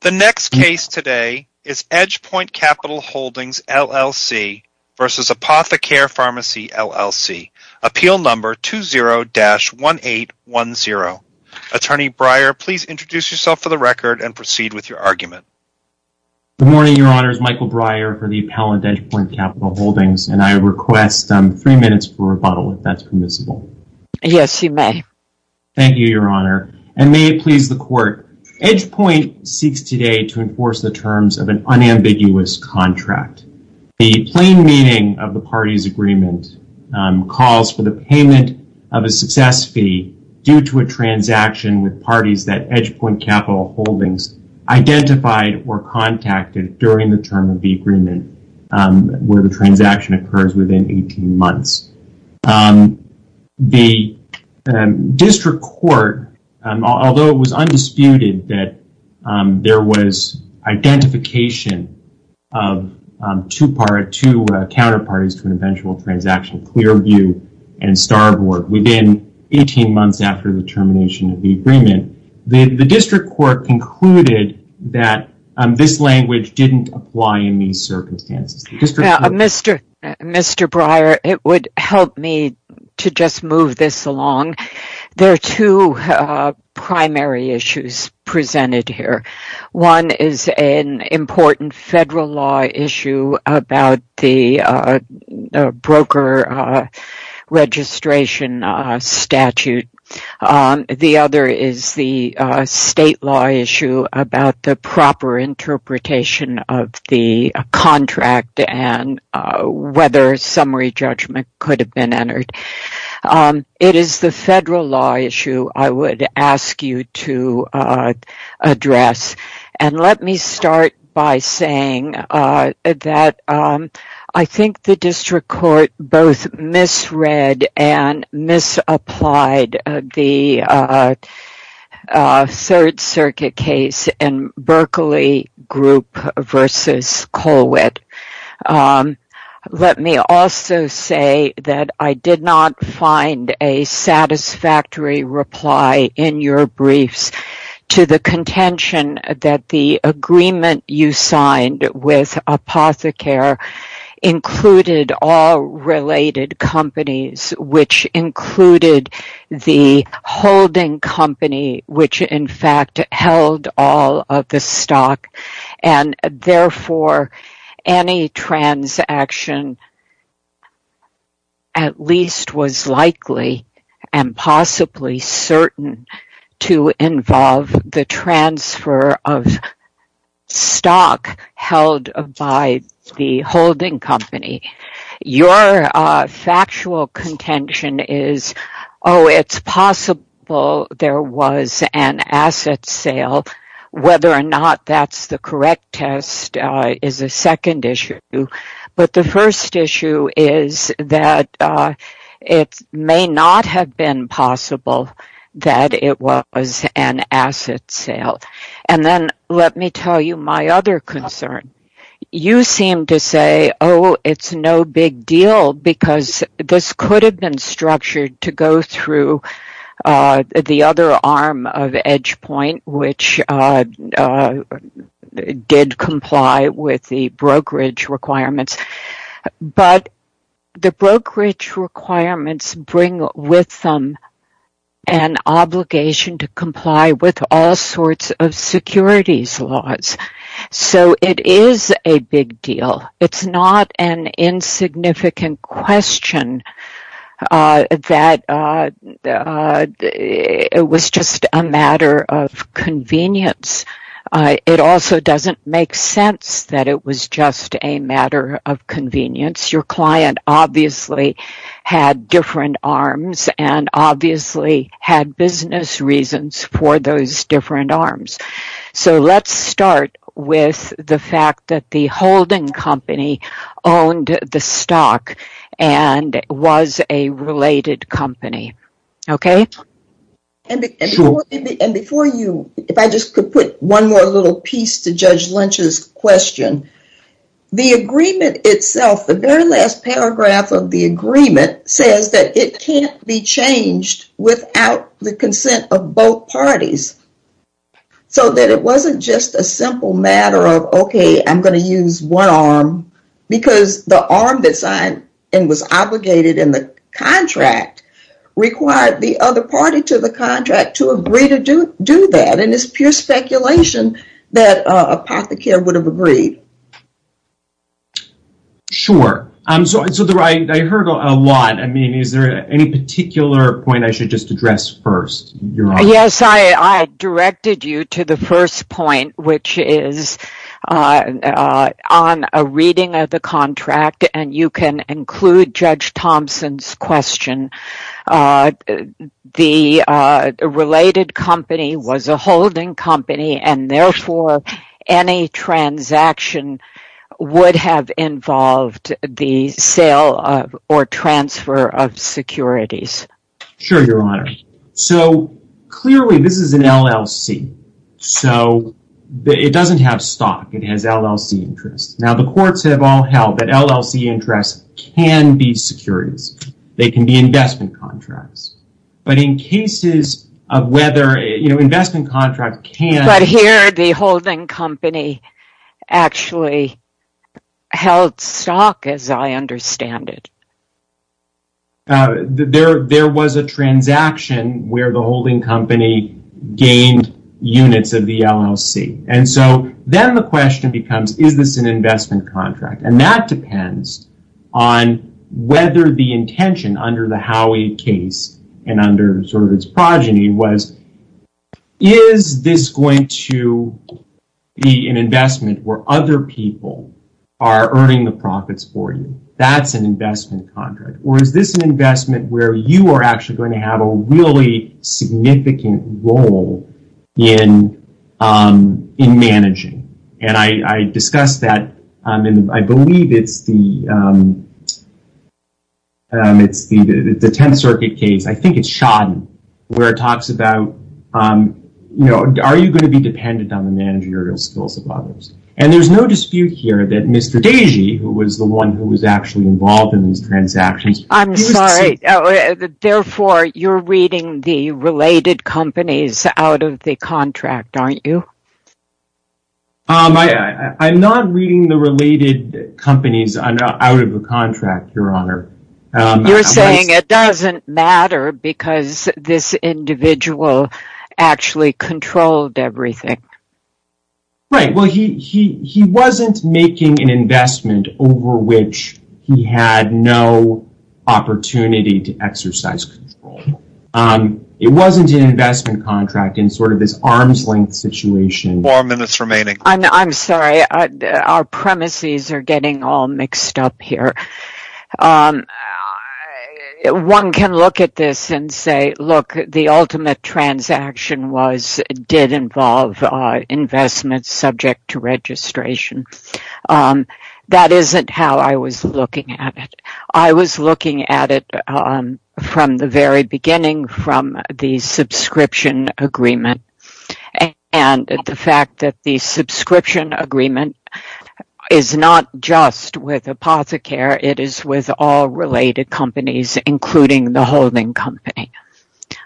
The next case today is EdgePoint Capital Hldgs, LLC v. Apothecare Pharmacy, LLC. Appeal number 20-1810. Attorney Breyer, please introduce yourself for the record and proceed with your argument. Good morning, Your Honor. It's Michael Breyer for the appellant, EdgePoint Capital Hldgs, and I request three minutes for rebuttal, if that's permissible. Yes, you may. Thank you, Your Honor. EdgePoint seeks today to enforce the terms of an unambiguous contract. The plain meaning of the party's agreement calls for the payment of a success fee due to a transaction with parties that EdgePoint Capital Hldgs identified or contacted during the term of the agreement, where the transaction occurs within 18 months. The district court, although it was undisputed that there was identification of two counterparties to an eventual transaction, Clearview and Starboard, within 18 months after the termination of the agreement, the district court concluded that this language didn't apply in these circumstances. Mr. Breyer, it would help me to just move this along. There are two primary issues presented here. One is an important federal law issue about the broker registration statute. The other is the state law issue about the proper interpretation of the contract and whether summary judgment could have been entered. It is the federal law issue I would ask you to address. Let me start by saying that I think the district court both misread and misapplied the Third Circuit case in Berkeley Group v. Colwitt. Let me also say that I did not find a satisfactory reply in your briefs to the contention that the agreement you signed with Apothecary included all related companies, which included the any transaction at least was likely and possibly certain to involve the transfer of stock held by the holding company. Your factual contention is, oh, it's possible there was an asset sale, whether or not that's the correct test, is a second issue. The first issue is that it may not have been possible that it was an asset sale. Let me tell you my other concern. You seem to say, oh, it's no big deal because this could have been structured to go through the other arm of Edgepoint, which did comply with the brokerage requirements. But the brokerage requirements bring with them an obligation to comply with all sorts of securities laws, so it is a big deal. It's not an insignificant question that it was just a matter of convenience. It also doesn't make sense that it was just a matter of convenience. Your client obviously had different arms and obviously had business reasons for those different arms. So let's start with the fact that the holding company owned the stock and was a related company. Okay? Sure. And before you, if I just could put one more little piece to Judge Lynch's question. The agreement itself, the very last paragraph of the agreement says that it can't be changed without the consent of both parties. So that it wasn't just a simple matter of, okay, I'm going to use one arm because the arm that signed and was obligated in the contract required the other party to the contract to agree to do that. And it's pure speculation that Apothecary would have agreed. Sure. So I heard a lot. I mean, is there any particular point I should just address first? Yes, I directed you to the first point, which is on a reading of the contract, and you can include Judge Thompson's question. The related company was a holding company and therefore any transaction would have involved the sale or transfer of securities. Sure, Your Honor. So clearly this is an LLC. So it doesn't have stock, it has LLC interests. Now the courts have all held that LLC interests can be securities. They can be investment contracts. But in cases of whether, you know, investment contract can... But here the holding company actually held stock as I understand it. There was a transaction where the holding company gained units of the LLC. And so then the question becomes, is this an investment contract? And that depends on whether the intention under the Howey case and under sort of its going to be an investment where other people are earning the profits for you. That's an investment contract. Or is this an investment where you are actually going to have a really significant role in managing? And I discussed that, and I believe it's the 10th Circuit case. I think it's Shodden, where it talks about, you know, are you going to be dependent on the managerial skills of others? And there's no dispute here that Mr. Deji, who was the one who was actually involved in these transactions... I'm sorry, therefore you're reading the related companies out of the contract, aren't you? I'm not reading the related companies out of a contract, Your Honor. You're saying it doesn't matter because this individual actually controlled everything. Right. Well, he wasn't making an investment over which he had no opportunity to exercise control. It wasn't an investment contract in sort of this arm's length situation. Four minutes remaining. I'm sorry. Our premises are getting all mixed up here. One can look at this and say, look, the ultimate transaction did involve investments subject to registration. That isn't how I was looking at it. I was looking at it from the very beginning, from the subscription agreement, and the fact is not just with Apothecary, it is with all related companies, including the holding company.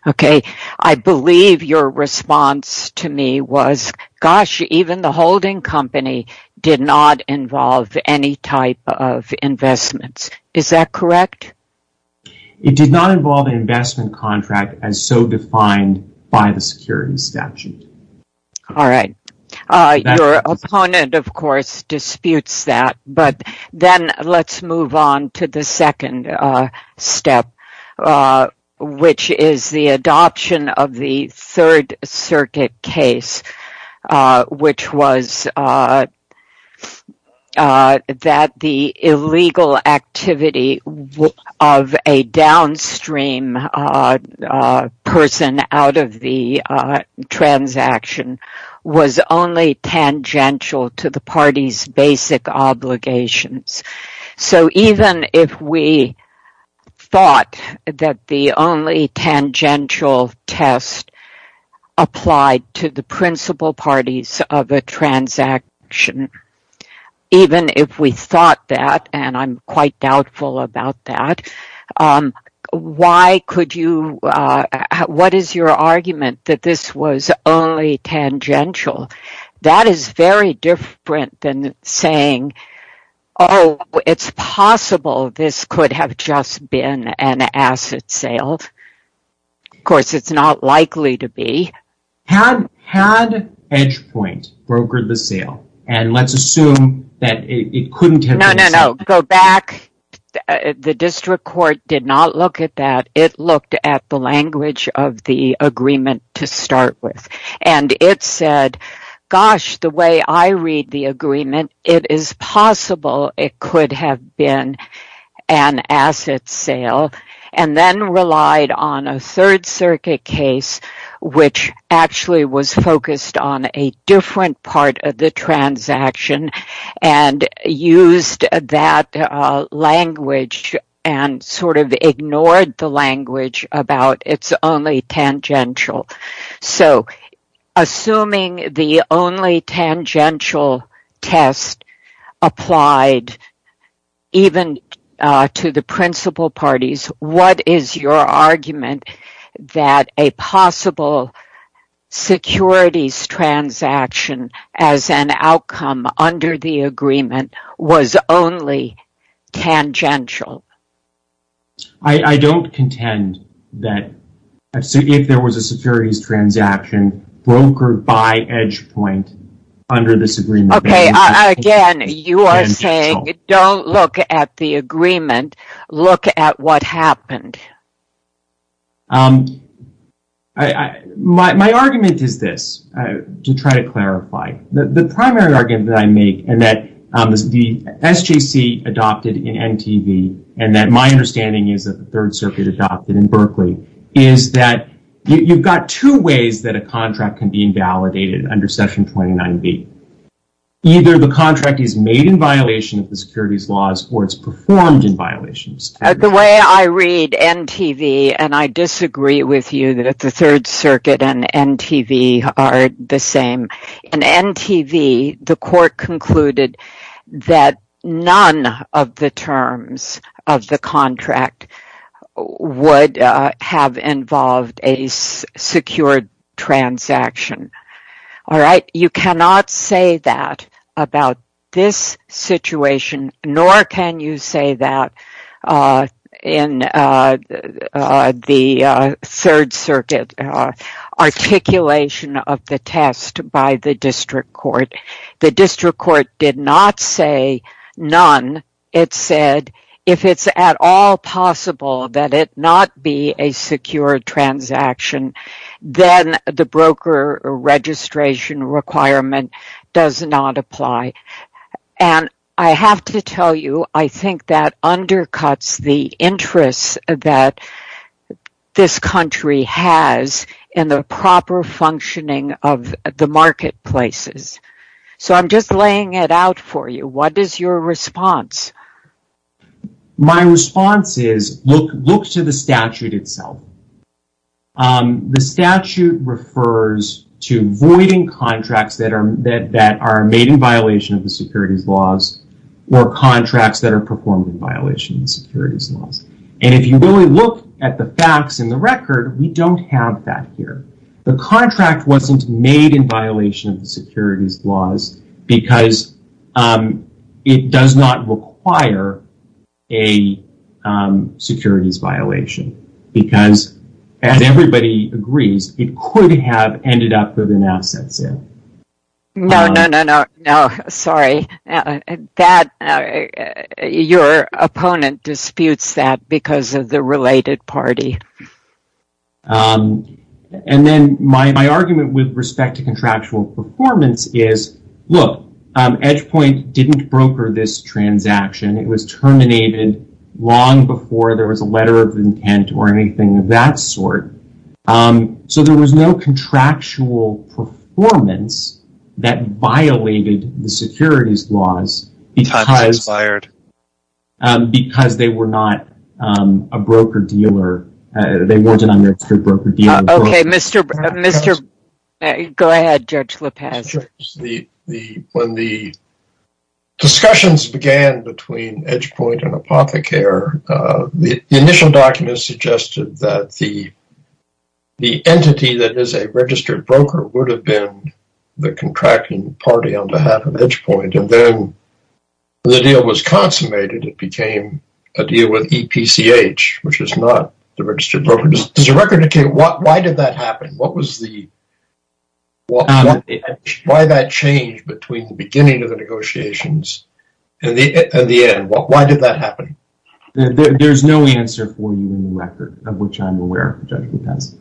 Okay. I believe your response to me was, gosh, even the holding company did not involve any type of investments. Is that correct? It did not involve an investment contract as so defined by the security statute. Alright. Your opponent, of course, disputes that, but then let's move on to the second step, which is the adoption of the Third Circuit case, which was that the illegal activity of a downstream person out of the transaction was only tangential to the party's basic obligations. So even if we thought that the only tangential test applied to the principal parties of a Why could you, what is your argument that this was only tangential? That is very different than saying, oh, it's possible this could have just been an asset sale. Of course, it's not likely to be. Had Edgepoint brokered the sale, and let's assume that it couldn't have been a sale. No, no, no. Go back. The district court did not look at that. It looked at the language of the agreement to start with, and it said, gosh, the way I read the agreement, it is possible it could have been an asset sale, and then relied on a Third Circuit case, which actually was focused on a different part of the transaction and used that language and sort of ignored the language about it's only tangential. So assuming the only tangential test applied even to the principal parties, what is your agreement was only tangential? I don't contend that if there was a securities transaction brokered by Edgepoint under this agreement. Okay, again, you are saying don't look at the agreement, look at what happened. My argument is this, to try to clarify. The primary argument that I make, and that the SJC adopted in NTV, and that my understanding is that the Third Circuit adopted in Berkeley, is that you've got two ways that a contract can be invalidated under Section 29B. Either the contract is made in violation of the securities laws, or it's performed in violations. The way I read NTV, and I disagree with you that the Third Circuit and NTV are the same. In NTV, the court concluded that none of the terms of the contract would have involved a secured transaction. You cannot say that about this situation, nor can you say that in the Third Circuit articulation of the test by the district court. The district court did not say none. It said if it's at all possible that it not be a secured transaction, then the broker registration requirement does not apply. I have to tell you, I think that undercuts the interest that this country has in the proper functioning of the marketplaces. So I'm just laying it out for you. What is your response? My response is, look to the statute itself. The statute refers to voiding contracts that are made in violation of the securities laws, or contracts that are performed in violation of the securities laws. If you really look at the facts and the record, we don't have that here. The contract wasn't made in violation of the securities laws because it does not require a securities violation. Because as everybody agrees, it could have ended up with an asset sale. No, no, no, no, sorry. Your opponent disputes that because of the related party. And then my argument with respect to contractual performance is, look, Edgepoint didn't broker this transaction. It was terminated long before there was a letter of intent or anything of that sort. So there was no contractual performance that violated the securities laws because they were not a broker-dealer. They weren't an unregistered broker-dealer. Okay, go ahead, Judge Lopez. When the discussions began between Edgepoint and Apothecary, the initial documents suggested that the entity that is a registered broker would have been the contracting party on behalf of Edgepoint. And then the deal was consummated. It became a deal with EPCH, which is not the registered broker. Does the record indicate why did that happen? What was the... Why that change between the beginning of the negotiations and the end? Why did that happen? There's no answer for you in the record, of which I'm aware, Judge Lopez.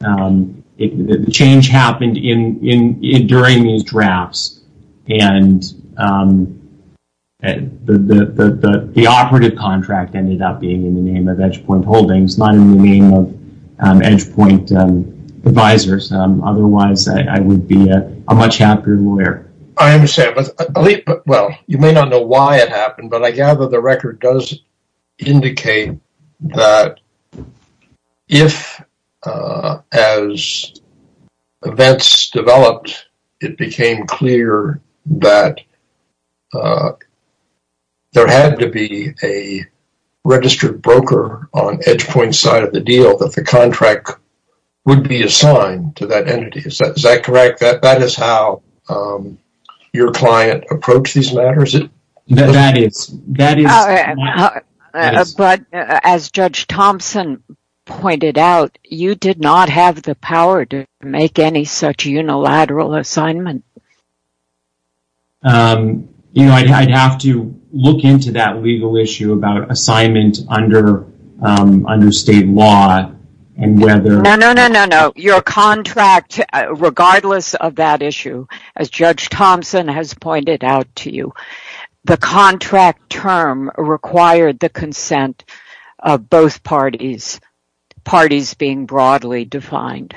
The change happened during these drafts. And the operative contract ended up being in the name of Edgepoint Holdings, not in the name of Edgepoint Advisors. Otherwise, I would be a much happier lawyer. I understand. But, well, you may not know why it happened, but I gather the record does indicate that if, as events developed, it became clear that there had to be a registered broker on Edgepoint's side of the deal that the contract would be assigned to that entity. Is that correct? That is how your client approached these matters? That is. That is. But as Judge Thompson pointed out, you did not have the power to make any such unilateral assignment. You know, I'd have to look into that legal issue about assignment under state law and whether... No, no, no, no, no. Your contract, regardless of that issue, as Judge Thompson has pointed out to you, the contract term required the consent of both parties, parties being broadly defined.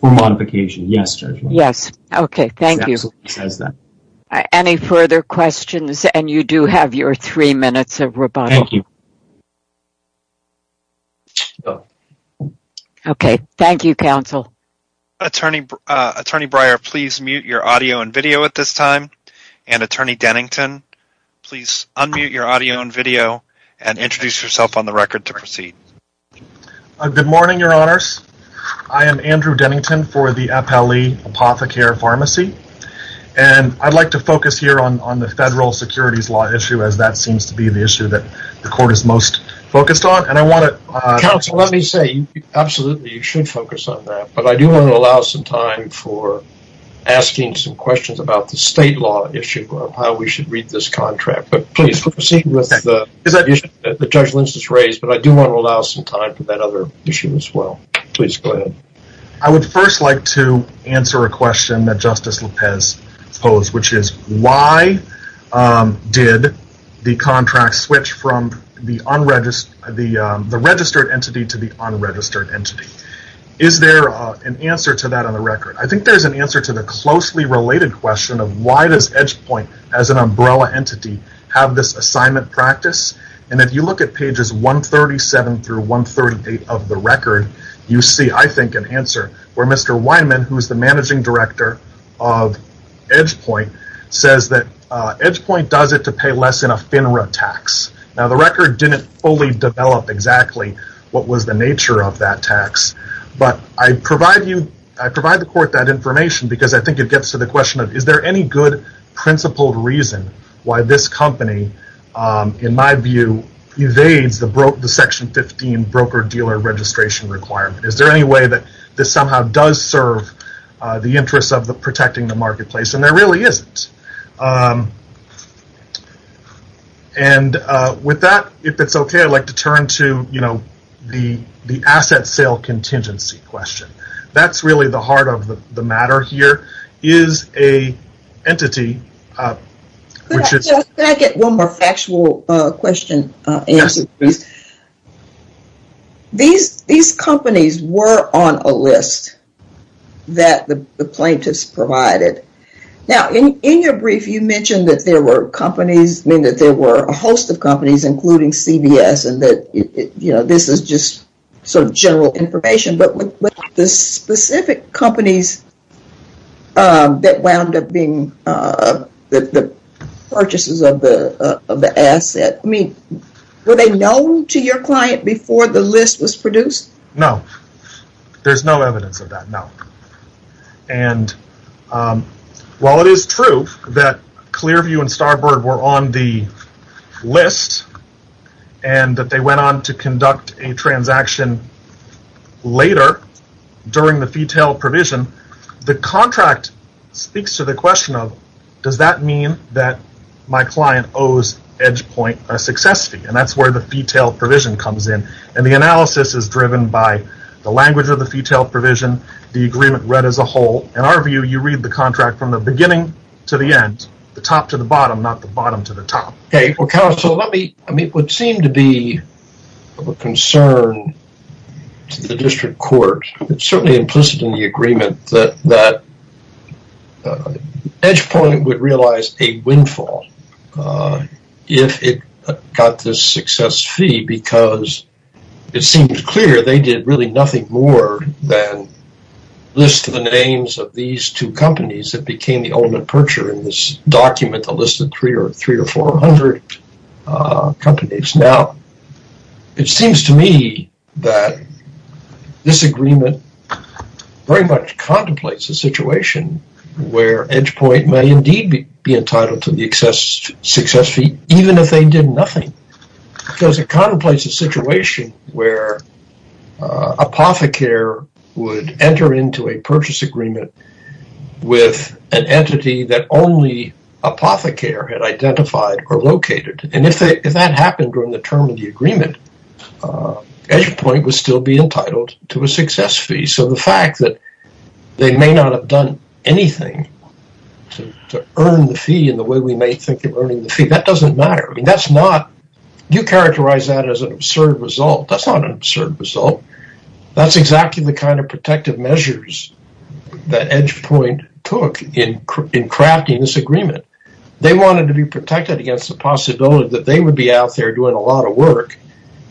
For modification, yes, Judge Lopez. Yes. Okay. Thank you. Any further questions? And you do have your three minutes of rebuttal. Thank you. Okay. Thank you, counsel. Attorney Breyer, please mute your audio and video at this time. And, Attorney Dennington, please unmute your audio and video and introduce yourself on the record to proceed. Good morning, Your Honors. I am Andrew Dennington for the FLE Apothecary Pharmacy. And I'd like to focus here on the federal securities law issue, as that seems to be the issue that the court is most focused on. And I want to... Counsel, let me say, absolutely, you should focus on that. But I do want to allow some time for asking some questions about the state law issue of how we should read this contract. But please, proceed with the issue that Judge Lynch has raised. But I do want to allow some time for that other issue as well. Please go ahead. I would first like to answer a question that Justice Lopez posed, which is, why did the contract switch from the registered entity to the unregistered entity? Is there an answer to that on the record? I think there's an answer to the closely related question of why does Edgepoint, as an umbrella entity, have this assignment practice? And if you look at pages 137 through 138 of the record, you see, I think, an answer where Mr. Weinman, who is the managing director of Edgepoint, says that Edgepoint does it to pay less in a FINRA tax. Now, the record didn't fully develop exactly what was the nature of that tax. But I provide the court that information because I think it gets to the question of, is there any good principled reason why this company, in my view, evades the Section 15 broker-dealer registration requirement? Is there any way that this somehow does serve the interests of protecting the marketplace? And there really isn't. And with that, if it's okay, I'd like to turn to the asset sale contingency question. That's really the heart of the matter here. The broker-dealer is an entity, which is... Could I get one more factual question answered, please? Yes. These companies were on a list that the plaintiffs provided. Now, in your brief, you mentioned that there were companies, I mean, that there were a host of companies, including CBS, and that this is just sort of general information. But the specific companies that wound up being the purchasers of the asset, I mean, were they known to your client before the list was produced? No. There's no evidence of that, no. And while it is true that Clearview and Starbird were on the list, and that they went on to later, during the Fetal Provision, the contract speaks to the question of, does that mean that my client owes Edgepoint a success fee? And that's where the Fetal Provision comes in. And the analysis is driven by the language of the Fetal Provision, the agreement read as a whole. In our view, you read the contract from the beginning to the end, the top to the bottom, not the bottom to the top. Okay, well, counsel, let me, I mean, it would seem to be of a concern to the district court, certainly implicit in the agreement, that Edgepoint would realize a windfall if it got this success fee, because it seems clear they did really nothing more than list the names of these two companies that became the ultimate purchaser in this document, a list of three or four hundred companies. Now, it seems to me that this agreement very much contemplates a situation where Edgepoint may indeed be entitled to the excess success fee, even if they did nothing, because it contemplates a situation where Apothecary would enter into a purchase agreement with an entity that only Apothecary had identified or located. And if that happened during the term of the agreement, Edgepoint would still be entitled to a success fee. So the fact that they may not have done anything to earn the fee in the way we may think of earning the fee, that doesn't matter. I mean, that's not, you characterize that as an absurd result. That's not an absurd result. That's exactly the kind of protective measures that Edgepoint took in crafting this agreement. They wanted to be protected against the possibility that they would be out there doing a lot of work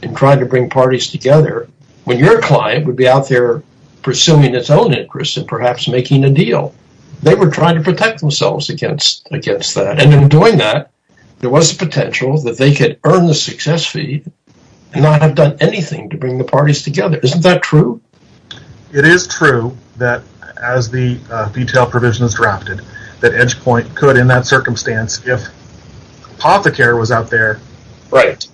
and trying to bring parties together, when your client would be out there pursuing its own interests and perhaps making a deal. They were trying to protect themselves against that. And in doing that, there was a potential that they could earn the success fee and not have done anything to bring the parties together. Isn't that true? It is true that as the detail provision is drafted, that Edgepoint could, in that circumstance, if Apothecary was out there, but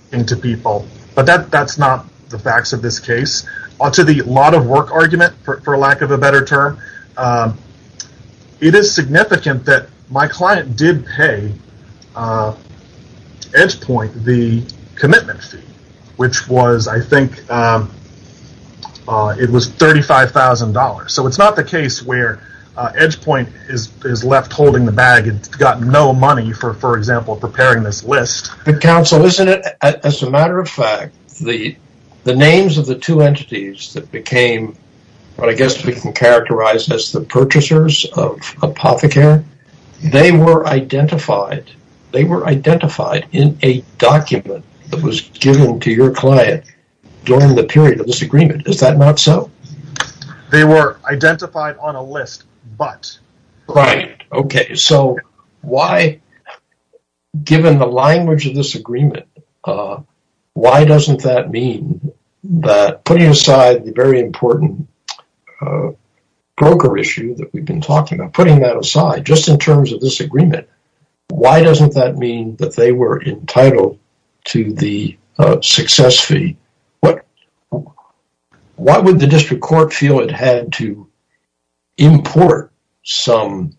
that's not the facts of this case. To the lot of work argument, for lack of a better term, it is significant that my client did pay Edgepoint the commitment fee, which was, I think, it was $35,000. So it's not the case where Edgepoint is left holding the bag and got no money for, for example, preparing this list. But counsel, isn't it, as a matter of fact, the names of the two entities that became, I guess we can characterize as the purchasers of Apothecary, they were identified, they were identified in a document that was given to your client during the period of this agreement. Is that not so? They were identified on a list, but. Right. Okay. So why, given the language of this agreement, why doesn't that mean that putting aside the very important broker issue that we've been talking about, putting that aside, just in terms of this agreement, why doesn't that mean that they were entitled to the success fee? What, why would the district court feel it had to import some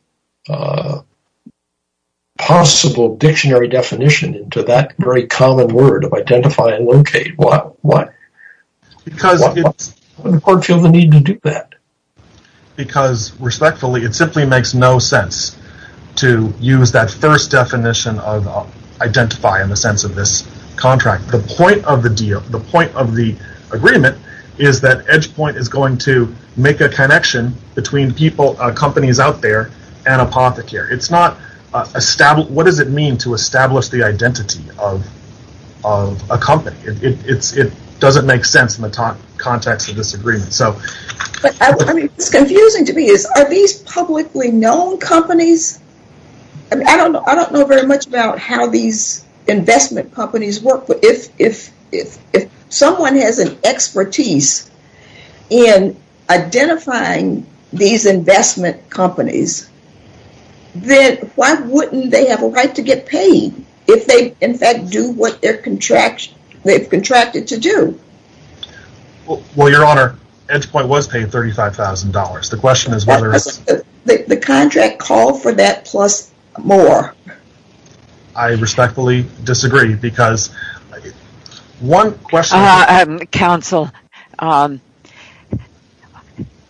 possible dictionary definition into that very common word of identify and locate? Why? Why would the court feel the need to do that? Because respectfully, it simply makes no sense to use that first definition of identify in the sense of this contract. The point of the deal, the point of the agreement is that Edgepoint is going to make a connection between people, companies out there and Apothecary. It's not, what does it mean to establish the identity of a company? It doesn't make sense in the context of this agreement. So- But I mean, it's confusing to me is, are these publicly known companies? I don't know very much about how these investment companies work, but if someone has an expertise in identifying these investment companies, then why wouldn't they have a right to get paid if they, in fact, do what they're contract, they've contracted to do? Well, your honor, Edgepoint was paid $35,000. The question is whether it's- The contract called for that plus more. I respectfully disagree because one question- Counsel,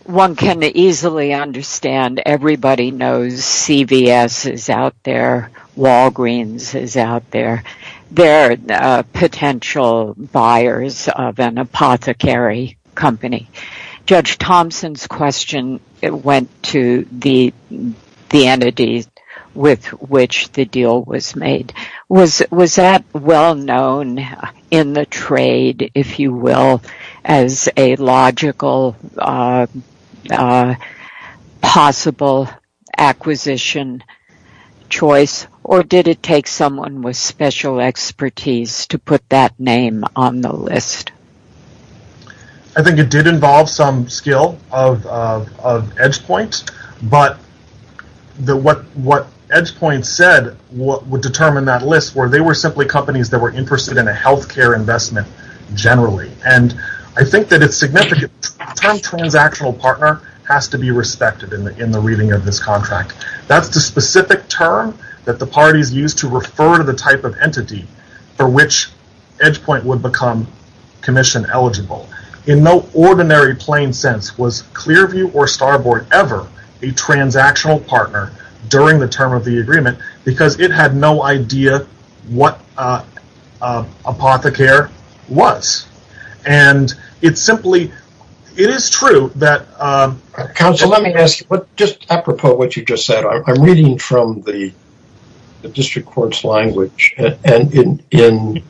one can easily understand everybody knows CVS is out there, Walgreens is out there. They're potential buyers of an Apothecary company. Judge Thompson's question went to the entity with which the deal was made. Was that well-known in the trade, if you will, as a logical possible acquisition choice or did it take someone with special expertise to put that name on the list? I think it did involve some skill of Edgepoint, but what Edgepoint said would determine that list where they were simply companies that were interested in a healthcare investment generally. I think that it's significant. The term transactional partner has to be respected in the reading of this contract. That's the specific term that the parties used to refer to the type of entity for which Edgepoint would become commission eligible. In no ordinary plain sense was Clearview or Starboard ever a transactional partner during the term of the agreement because it had no idea what Apothecary was. It's simply, it is true that- Counsel, let me ask you, just apropos what you just said, I'm reading from the district court's language and in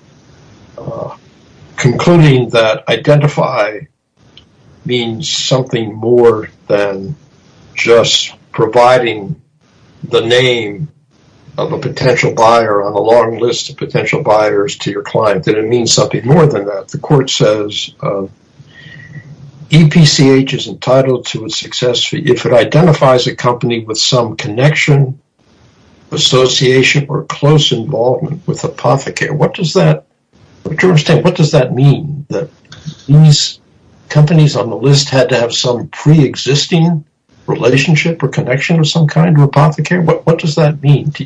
concluding that identify means something more than just providing the name of a potential buyer on a long list of potential buyers to your client. Did it mean something more than that? The court says EPCH is entitled to a success fee if it identifies a company with some connection, association or close involvement with Apothecary. What does that, what does that mean that these companies on the list had to have some pre-existing relationship or connection with some kind of Apothecary? What does that mean? I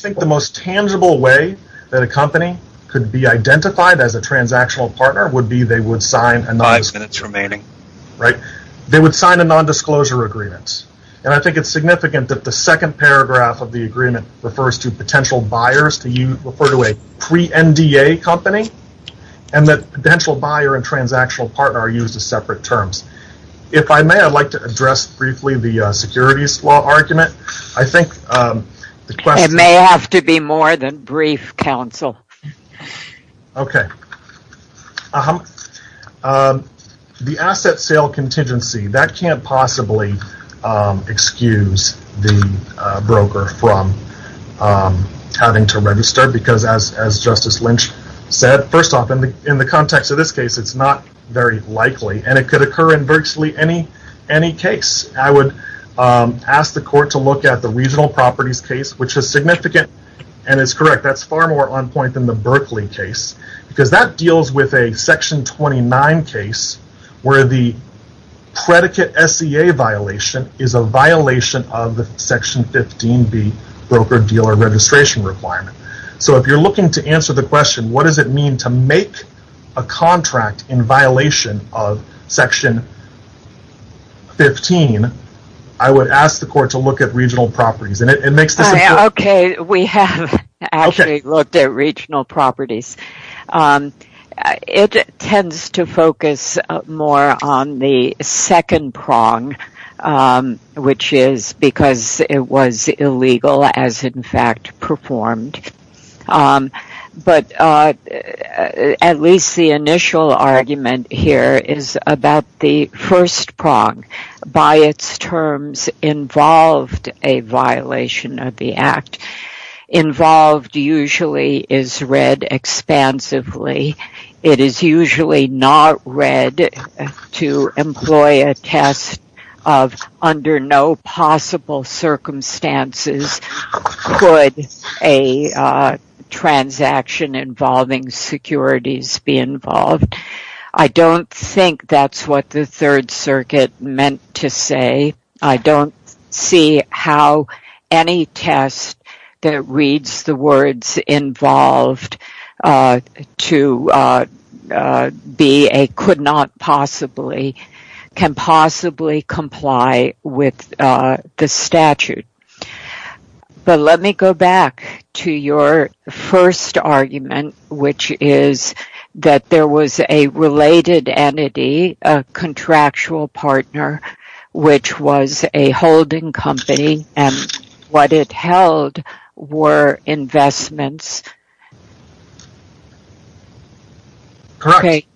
think the most tangible way that a company could be identified as a transactional partner would be they would sign a non-disclosure agreement. I think it's significant that the second paragraph of the agreement refers to potential buyers to refer to a pre-NDA company and that potential buyer and transactional partner are used as separate terms. If I may, I'd like to address briefly the securities law argument. I think the question... It may have to be more than brief, counsel. Okay. The asset sale contingency, that can't possibly excuse the broker from having to register because as Justice Lynch said, first off, in the context of this case, it's not very and virtually any case. I would ask the court to look at the regional properties case, which is significant and is correct. That's far more on point than the Berkeley case because that deals with a Section 29 case where the predicate SEA violation is a violation of the Section 15B broker-dealer registration requirement. If you're looking to answer the question, what does it mean to make a contract in violation of Section 15, I would ask the court to look at regional properties. It makes this... Okay. We have actually looked at regional properties. It tends to focus more on the second prong, which is because it was illegal as in fact performed. But at least the initial argument here is about the first prong. By its terms, involved a violation of the act. Involved usually is read expansively. It is usually not read to employ a test of under no possible circumstances could a transaction involving securities be involved. I don't think that's what the Third Circuit meant to say. I don't see how any test that reads the words involved to be a could not possibly, can possibly comply with the statute. Let me go back to your first argument, which is that there was a related entity, a contractual partner, which was a holding company, and what it held were investments. Correct.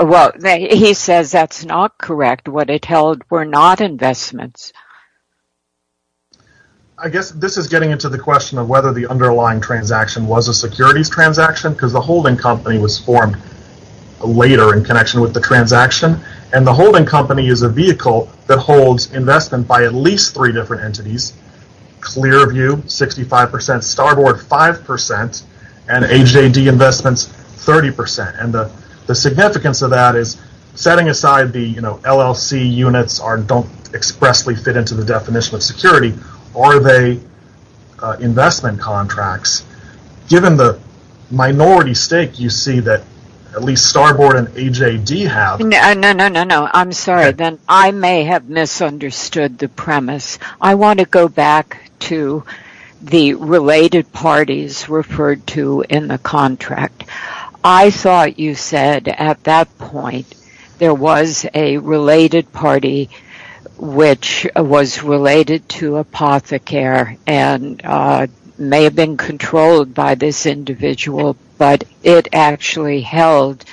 Well, he says that's not correct. What it held were not investments. I guess this is getting into the question of whether the underlying transaction was a securities transaction, because the holding company was formed later in connection with the transaction. The holding company is a vehicle that holds investment by at least three different entities. Clearview 65%, Starboard 5%, and AJD Investments 30%. The significance of that is setting aside the LLC units don't expressly fit into the definition of security, are they investment contracts? Given the minority stake you see that at least Starboard and AJD have. No, no, no, no, I'm sorry. I may have misunderstood the premise. I want to go back to the related parties referred to in the contract. I thought you said at that point there was a related party which was related to Apothecary and may have been controlled by this individual, but it actually held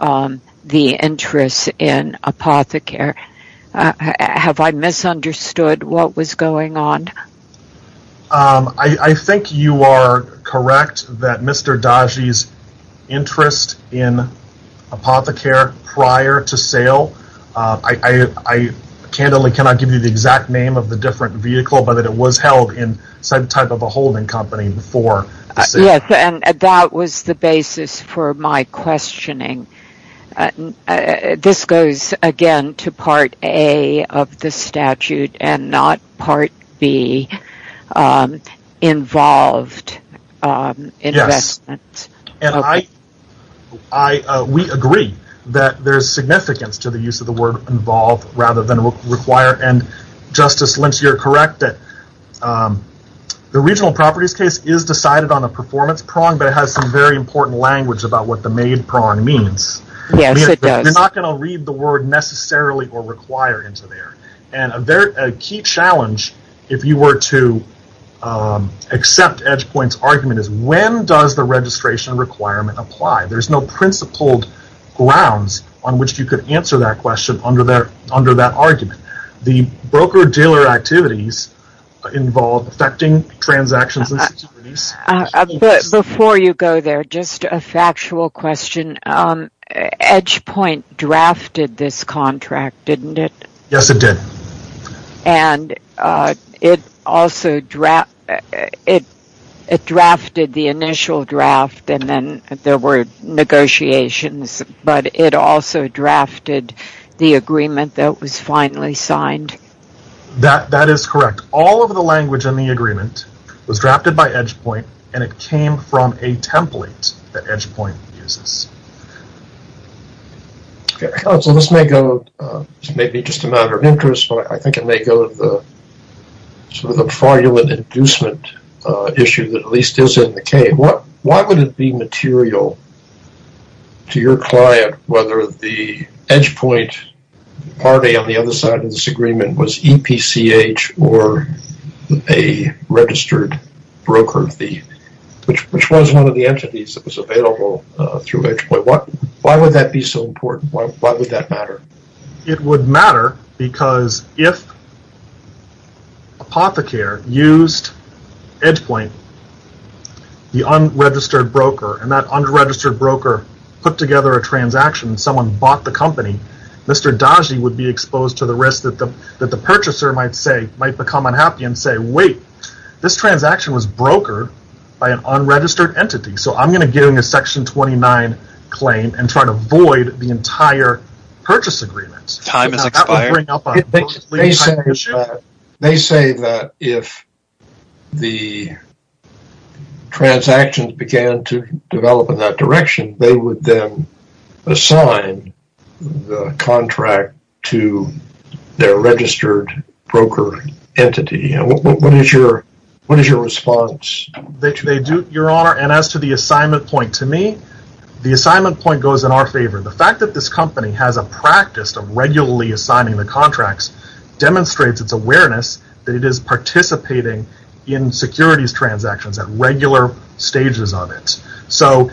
the interest in Apothecary. Have I misunderstood what was going on? I think you are correct that Mr. Dahj's interest in Apothecary prior to sale, I candidly cannot give you the exact name of the different vehicle, but it was held in some type of a holding company before the sale. That was the basis for my questioning. This goes again to part A of the statute and not part B, involved investment. We agree that there is significance to the use of the word involved rather than required. Justice Lynch, you are correct that the regional properties case is decided on a performance prong, but it has some very important language about what the main prong means. Yes, it does. You are not going to read the word necessarily or require into there. A key challenge, if you were to accept Edgepoint's argument, is when does the registration requirement apply? There are no principled grounds on which you could answer that question under that argument. The broker-dealer activities involve affecting transactions and securities. Before you go there, just a factual question. Edgepoint drafted this contract, didn't it? Yes, it did. And it also drafted the initial draft and then there were negotiations, but it also drafted the agreement that was finally signed? That is correct. All of the language in the agreement was drafted by Edgepoint and it came from a template that Edgepoint uses. Counsel, this may be just a matter of interest, but I think it may go to the fraudulent inducement issue that at least is in the case. Why would it be material to your client whether the Edgepoint party on the other side of this agreement was EPCH or a registered broker, which was one of the entities that was available through Edgepoint? Why would that be so important? Why would that matter? It would matter because if Apothecare used Edgepoint, the unregistered broker, and that unregistered broker put together a transaction and someone bought the company, Mr. Daji would be exposed to the risk that the purchaser might become unhappy and say, wait, this transaction was brokered by an unregistered entity. So I'm going to give him a Section 29 claim and try to void the entire purchase agreement. Time has expired. They say that if the transactions began to develop in that direction, they would then assign the contract to their registered broker entity. What is your response? They do, Your Honor, and as to the assignment point, to me, the assignment point goes in our favor. The fact that this company has a practice of regularly assigning the contracts demonstrates its awareness that it is participating in securities transactions at regular stages of it. So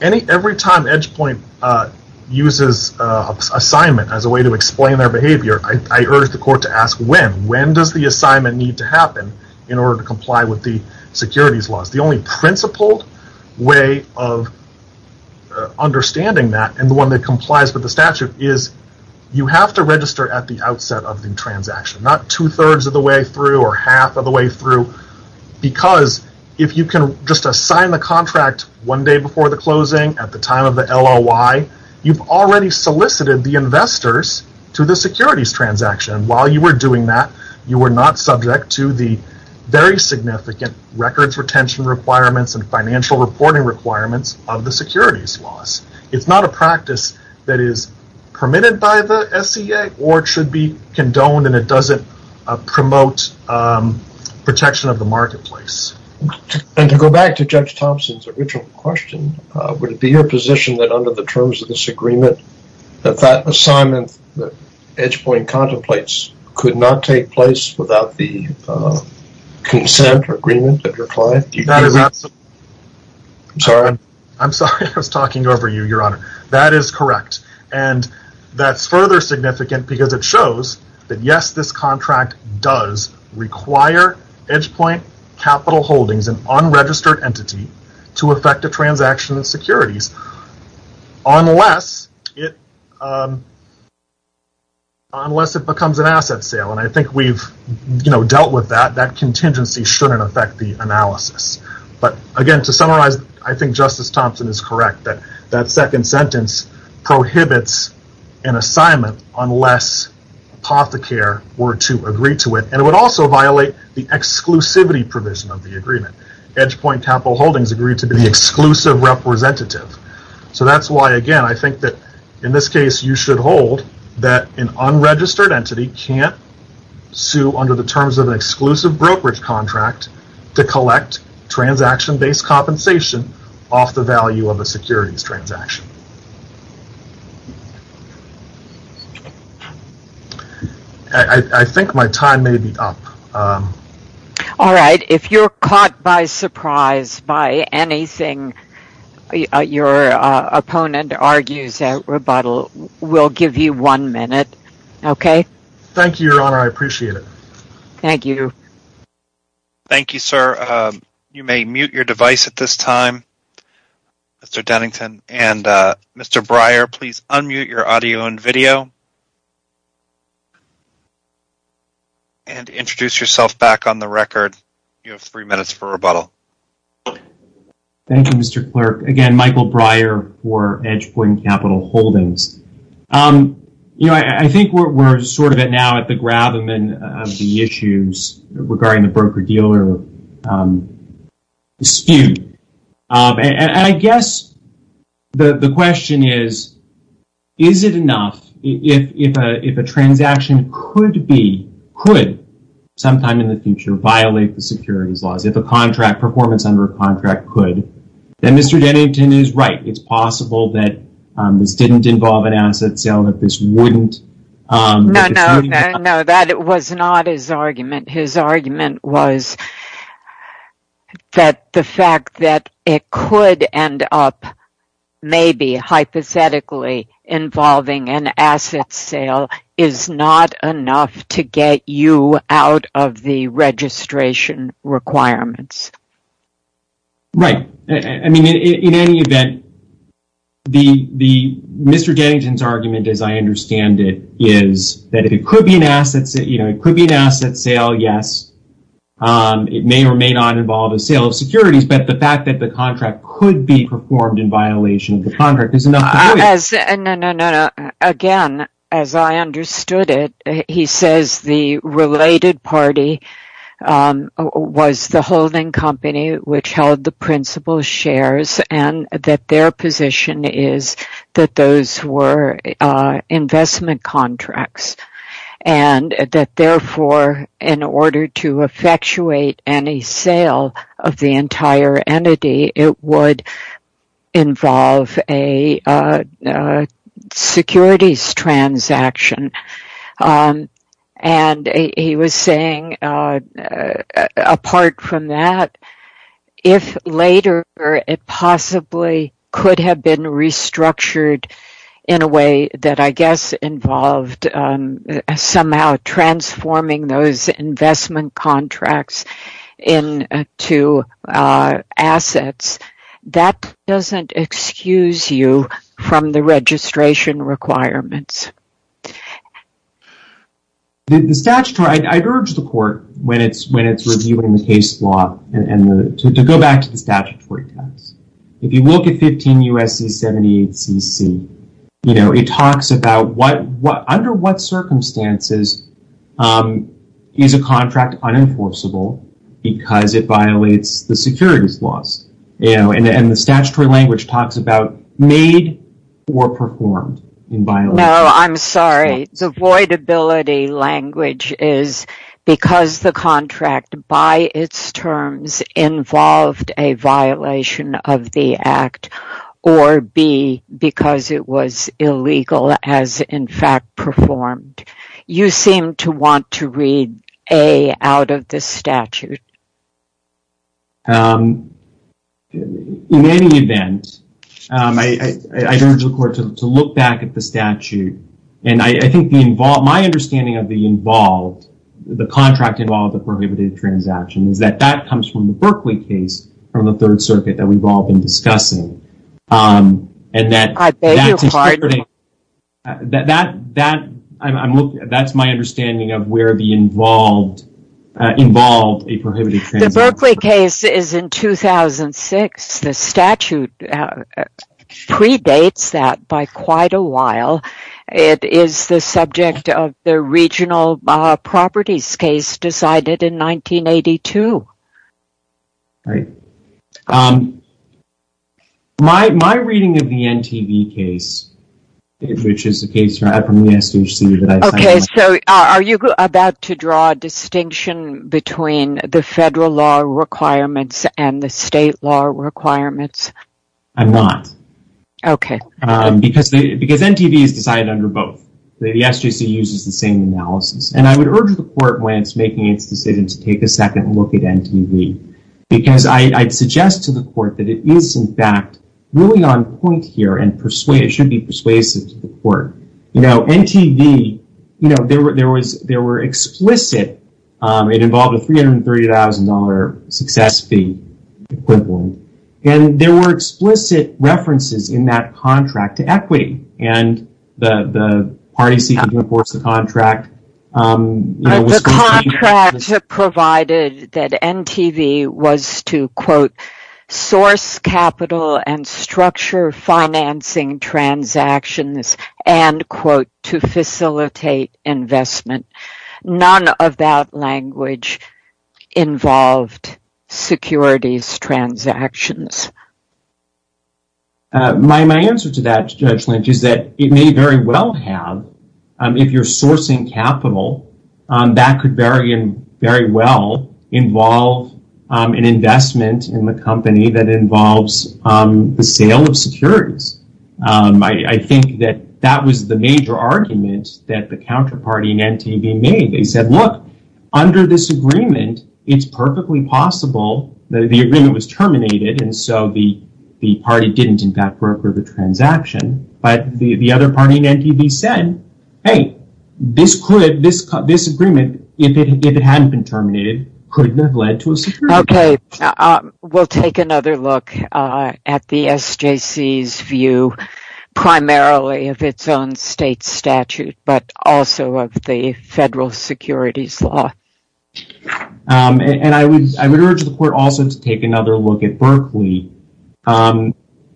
every time Edgepoint uses assignment as a way to explain their behavior, I urge the court to ask when. When does the assignment need to happen in order to comply with the securities laws? The only principled way of understanding that and the one that complies with the statute is you have to register at the outset of the transaction, not two-thirds of the way through or half of the way through, because if you can just assign the contract one day before the closing at the time of the LOI, you've already solicited the investors to the securities transaction. While you were doing that, you were not subject to the very significant records retention requirements and financial reporting requirements of the securities laws. It's not a practice that is permitted by the SCA or should be condoned and it doesn't promote protection of the marketplace. To go back to Judge Thompson's original question, would it be your position that under the terms of this agreement, that that assignment that Edgepoint contemplates could not take place without the consent or agreement of your client? I'm sorry, I was talking over you, Your Honor. That is correct and that's further significant because it shows that yes, this contract does require Edgepoint Capital Holdings, an unregistered entity, to effect a transaction in securities. Unless it becomes an asset sale and I think we've dealt with that, that contingency shouldn't affect the analysis. Again, to summarize, I think Justice Thompson is correct that that second sentence prohibits an assignment unless apothecary were to agree to it and it would also violate the exclusivity provision of the agreement. Edgepoint Capital Holdings agreed to be the exclusive representative. That's why, again, I think that in this case you should hold that an unregistered entity can't sue under the terms of an exclusive brokerage contract to collect transaction-based compensation off the value of a securities transaction. I think my time may be up. All right. If you're caught by surprise by anything your opponent argues at rebuttal, we'll give you one minute. Okay? Thank you, Your Honor. I appreciate it. Thank you. Thank you, sir. You may mute your device at this time. Mr. Dennington and Mr. Breyer, please unmute your audio and video and introduce yourself back on the record. You have three minutes for rebuttal. Thank you, Mr. Clerk. Again, Michael Breyer for Edgepoint Capital Holdings. You know, I think we're sort of now at the grabbin' of the issues regarding the broker-dealer dispute, and I guess the question is, is it enough if a transaction could be, could sometime in the future violate the securities laws, if a contract performance under a contract could, then Mr. Dennington is right. It's possible that this didn't involve an asset sale, that this wouldn't. No, no, no, that was not his argument. His argument was that the fact that it could end up maybe hypothetically involving an asset sale is not enough to get you out of the registration requirements. Right. I mean, in any event, Mr. Dennington's argument, as I understand it, is that it could be an asset, you know, it could be an asset sale, yes. It may or may not involve a sale of securities, but the fact that the contract could be performed in violation of the contract is enough to do it. No, no, no, again, as I understood it, he says the related party was the holding company which held the principal shares and that their position is that those were investment contracts and that therefore, in order to effectuate any sale of the entire entity, it would involve a securities transaction. And he was saying, apart from that, if later it possibly could have been restructured in a way that I guess involved somehow transforming those investment contracts into assets, that doesn't excuse you from the registration requirements. The statutory, I'd urge the court, when it's reviewing the case law, to go back to the statutory test. If you look at 15 U.S.C. 78 CC, you know, it talks about under what circumstances is a contract unenforceable because it violates the securities laws, you know, and the statutory language talks about made or performed in violation. No, I'm sorry, the voidability language is because the contract by its terms involved a violation of the act or B, because it was illegal as in fact performed. You seem to want to read A out of the statute. In any event, I'd urge the court to look back at the statute and I think my understanding of the involved, the contract involved, the prohibited transaction is that that comes from the Berkeley case from the Third Circuit that we've all been discussing. I beg your pardon? That's my understanding of where the involved, involved a prohibited transaction. The Berkeley case is in 2006. The statute predates that by quite a while. It is the subject of the regional properties case decided in 1982. All right. My reading of the NTV case, which is a case from the SJC that I signed. Okay, so are you about to draw a distinction between the federal law requirements and the state law requirements? I'm not. Okay. Because NTV is decided under both. The SJC uses the same analysis and I would urge the court when it's making its decision to take a second look at NTV because I'd suggest to the court that it is in fact really on point here and should be persuasive to the court. NTV, there were explicit, it involved a $330,000 success fee equivalent and there were explicit references in that contract to equity and the party seeking to enforce the contract. The contract provided that NTV was to, quote, source capital and structure financing transactions and, quote, to facilitate investment. None of that language involved securities transactions. My answer to that, Judge Lynch, is that it may very well have, if you're sourcing capital, that could very well involve an investment in the company that involves the sale of securities. I think that that was the major argument that the counterparty in NTV made. They said, look, under this agreement, it's perfectly possible that the agreement was terminated so the party didn't in fact broker the transaction. But the other party in NTV said, hey, this agreement, if it hadn't been terminated, couldn't have led to a security. Okay. We'll take another look at the SJC's view primarily of its own state statute but also of the federal securities law. And I would urge the court also to take another look at Berkeley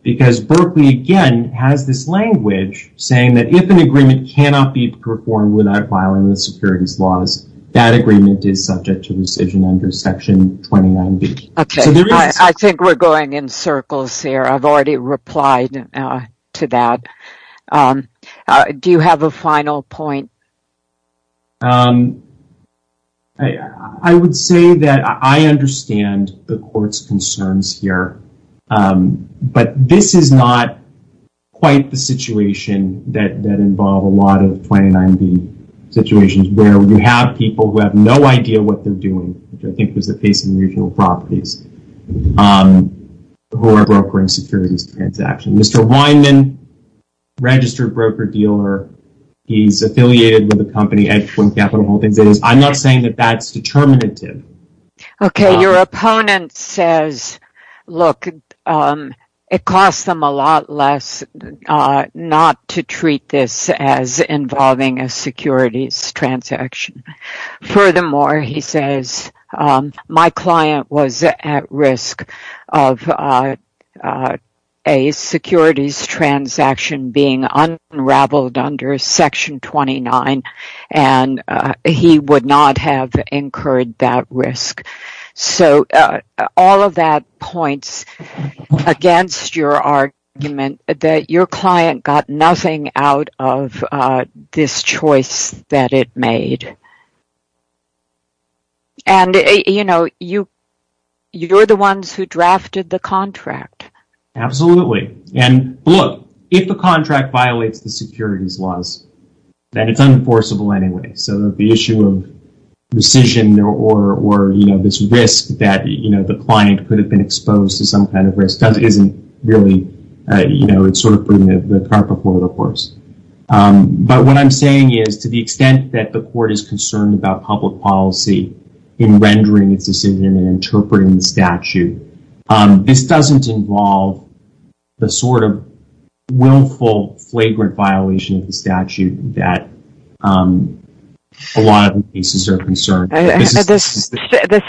because Berkeley, again, has this language saying that if an agreement cannot be performed without violating the securities laws, that agreement is subject to rescission under Section 29B. Okay. I think we're going in circles here. I've already replied to that. Do you have a final point? I would say that I understand the court's concerns here. But this is not quite the situation that involved a lot of 29B situations where you have people who have no idea what they're doing, which I think was the case in the regional properties, who are brokering securities transactions. Mr. Weinman, registered broker-dealer, he's affiliated with a company, Edwin Capital Holdings. I'm not saying that that's determinative. Okay. Your opponent says, look, it costs them a lot less not to treat this as involving a securities transaction. Furthermore, he says, my client was at risk of a securities transaction being unraveled under Section 29, and he would not have incurred that risk. So all of that points against your argument that your client got nothing out of this choice that it made. And, you know, you're the ones who drafted the contract. Absolutely. And, look, if the contract violates the securities laws, then it's unenforceable anyway. So the issue of rescission or, you know, this risk that, you know, the client could have been exposed to some kind of risk isn't really, you know, it's sort of putting the car before the horse. But what I'm saying is, to the extent that the court is concerned about public policy in rendering its decision and interpreting the statute, this doesn't involve the sort of willful, flagrant violation of the statute that a lot of the cases are concerned. The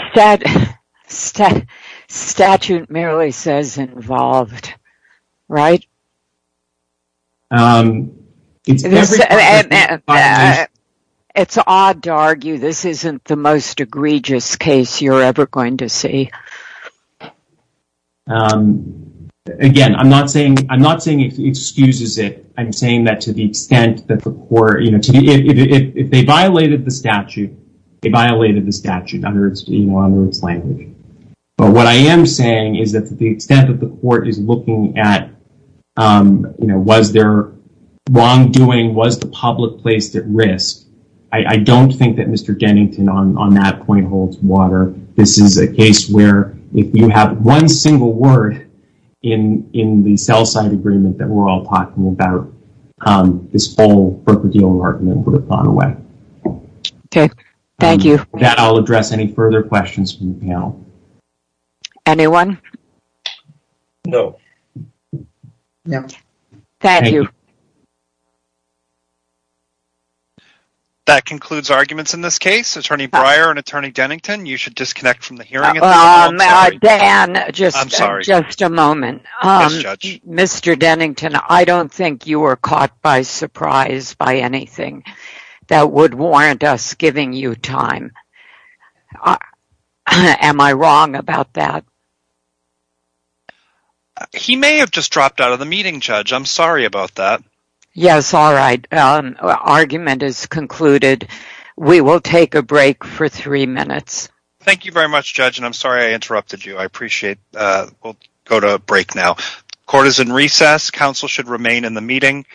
statute merely says involved, right? And it's odd to argue this isn't the most egregious case you're ever going to see. Again, I'm not saying it excuses it. I'm saying that to the extent that the court, you know, if they violated the statute, they violated the statute under its language. But what I am saying is that to the extent that the court is looking at, you know, was there wrongdoing, was the public placed at risk, I don't think that Mr. Dennington on that point holds water. This is a case where if you have one single word in the sell-side agreement that we're all talking about, this whole broker-dealer argument would have gone away. Okay. Thank you. With that, I'll address any further questions from the panel. Anyone? No. No. Thank you. That concludes arguments in this case. Attorney Breyer and Attorney Dennington, you should disconnect from the hearing. Dan, just a moment. Yes, Judge. Mr. Dennington, I don't think you were caught by surprise by anything that would warrant us giving you time. Am I wrong about that? He may have just dropped out of the meeting, Judge. I'm sorry about that. Yes, all right. Argument is concluded. We will take a break for three minutes. Thank you very much, Judge, and I'm sorry I interrupted you. I appreciate. We'll go to break now. Court is in recess. Counsel should remain in the meeting.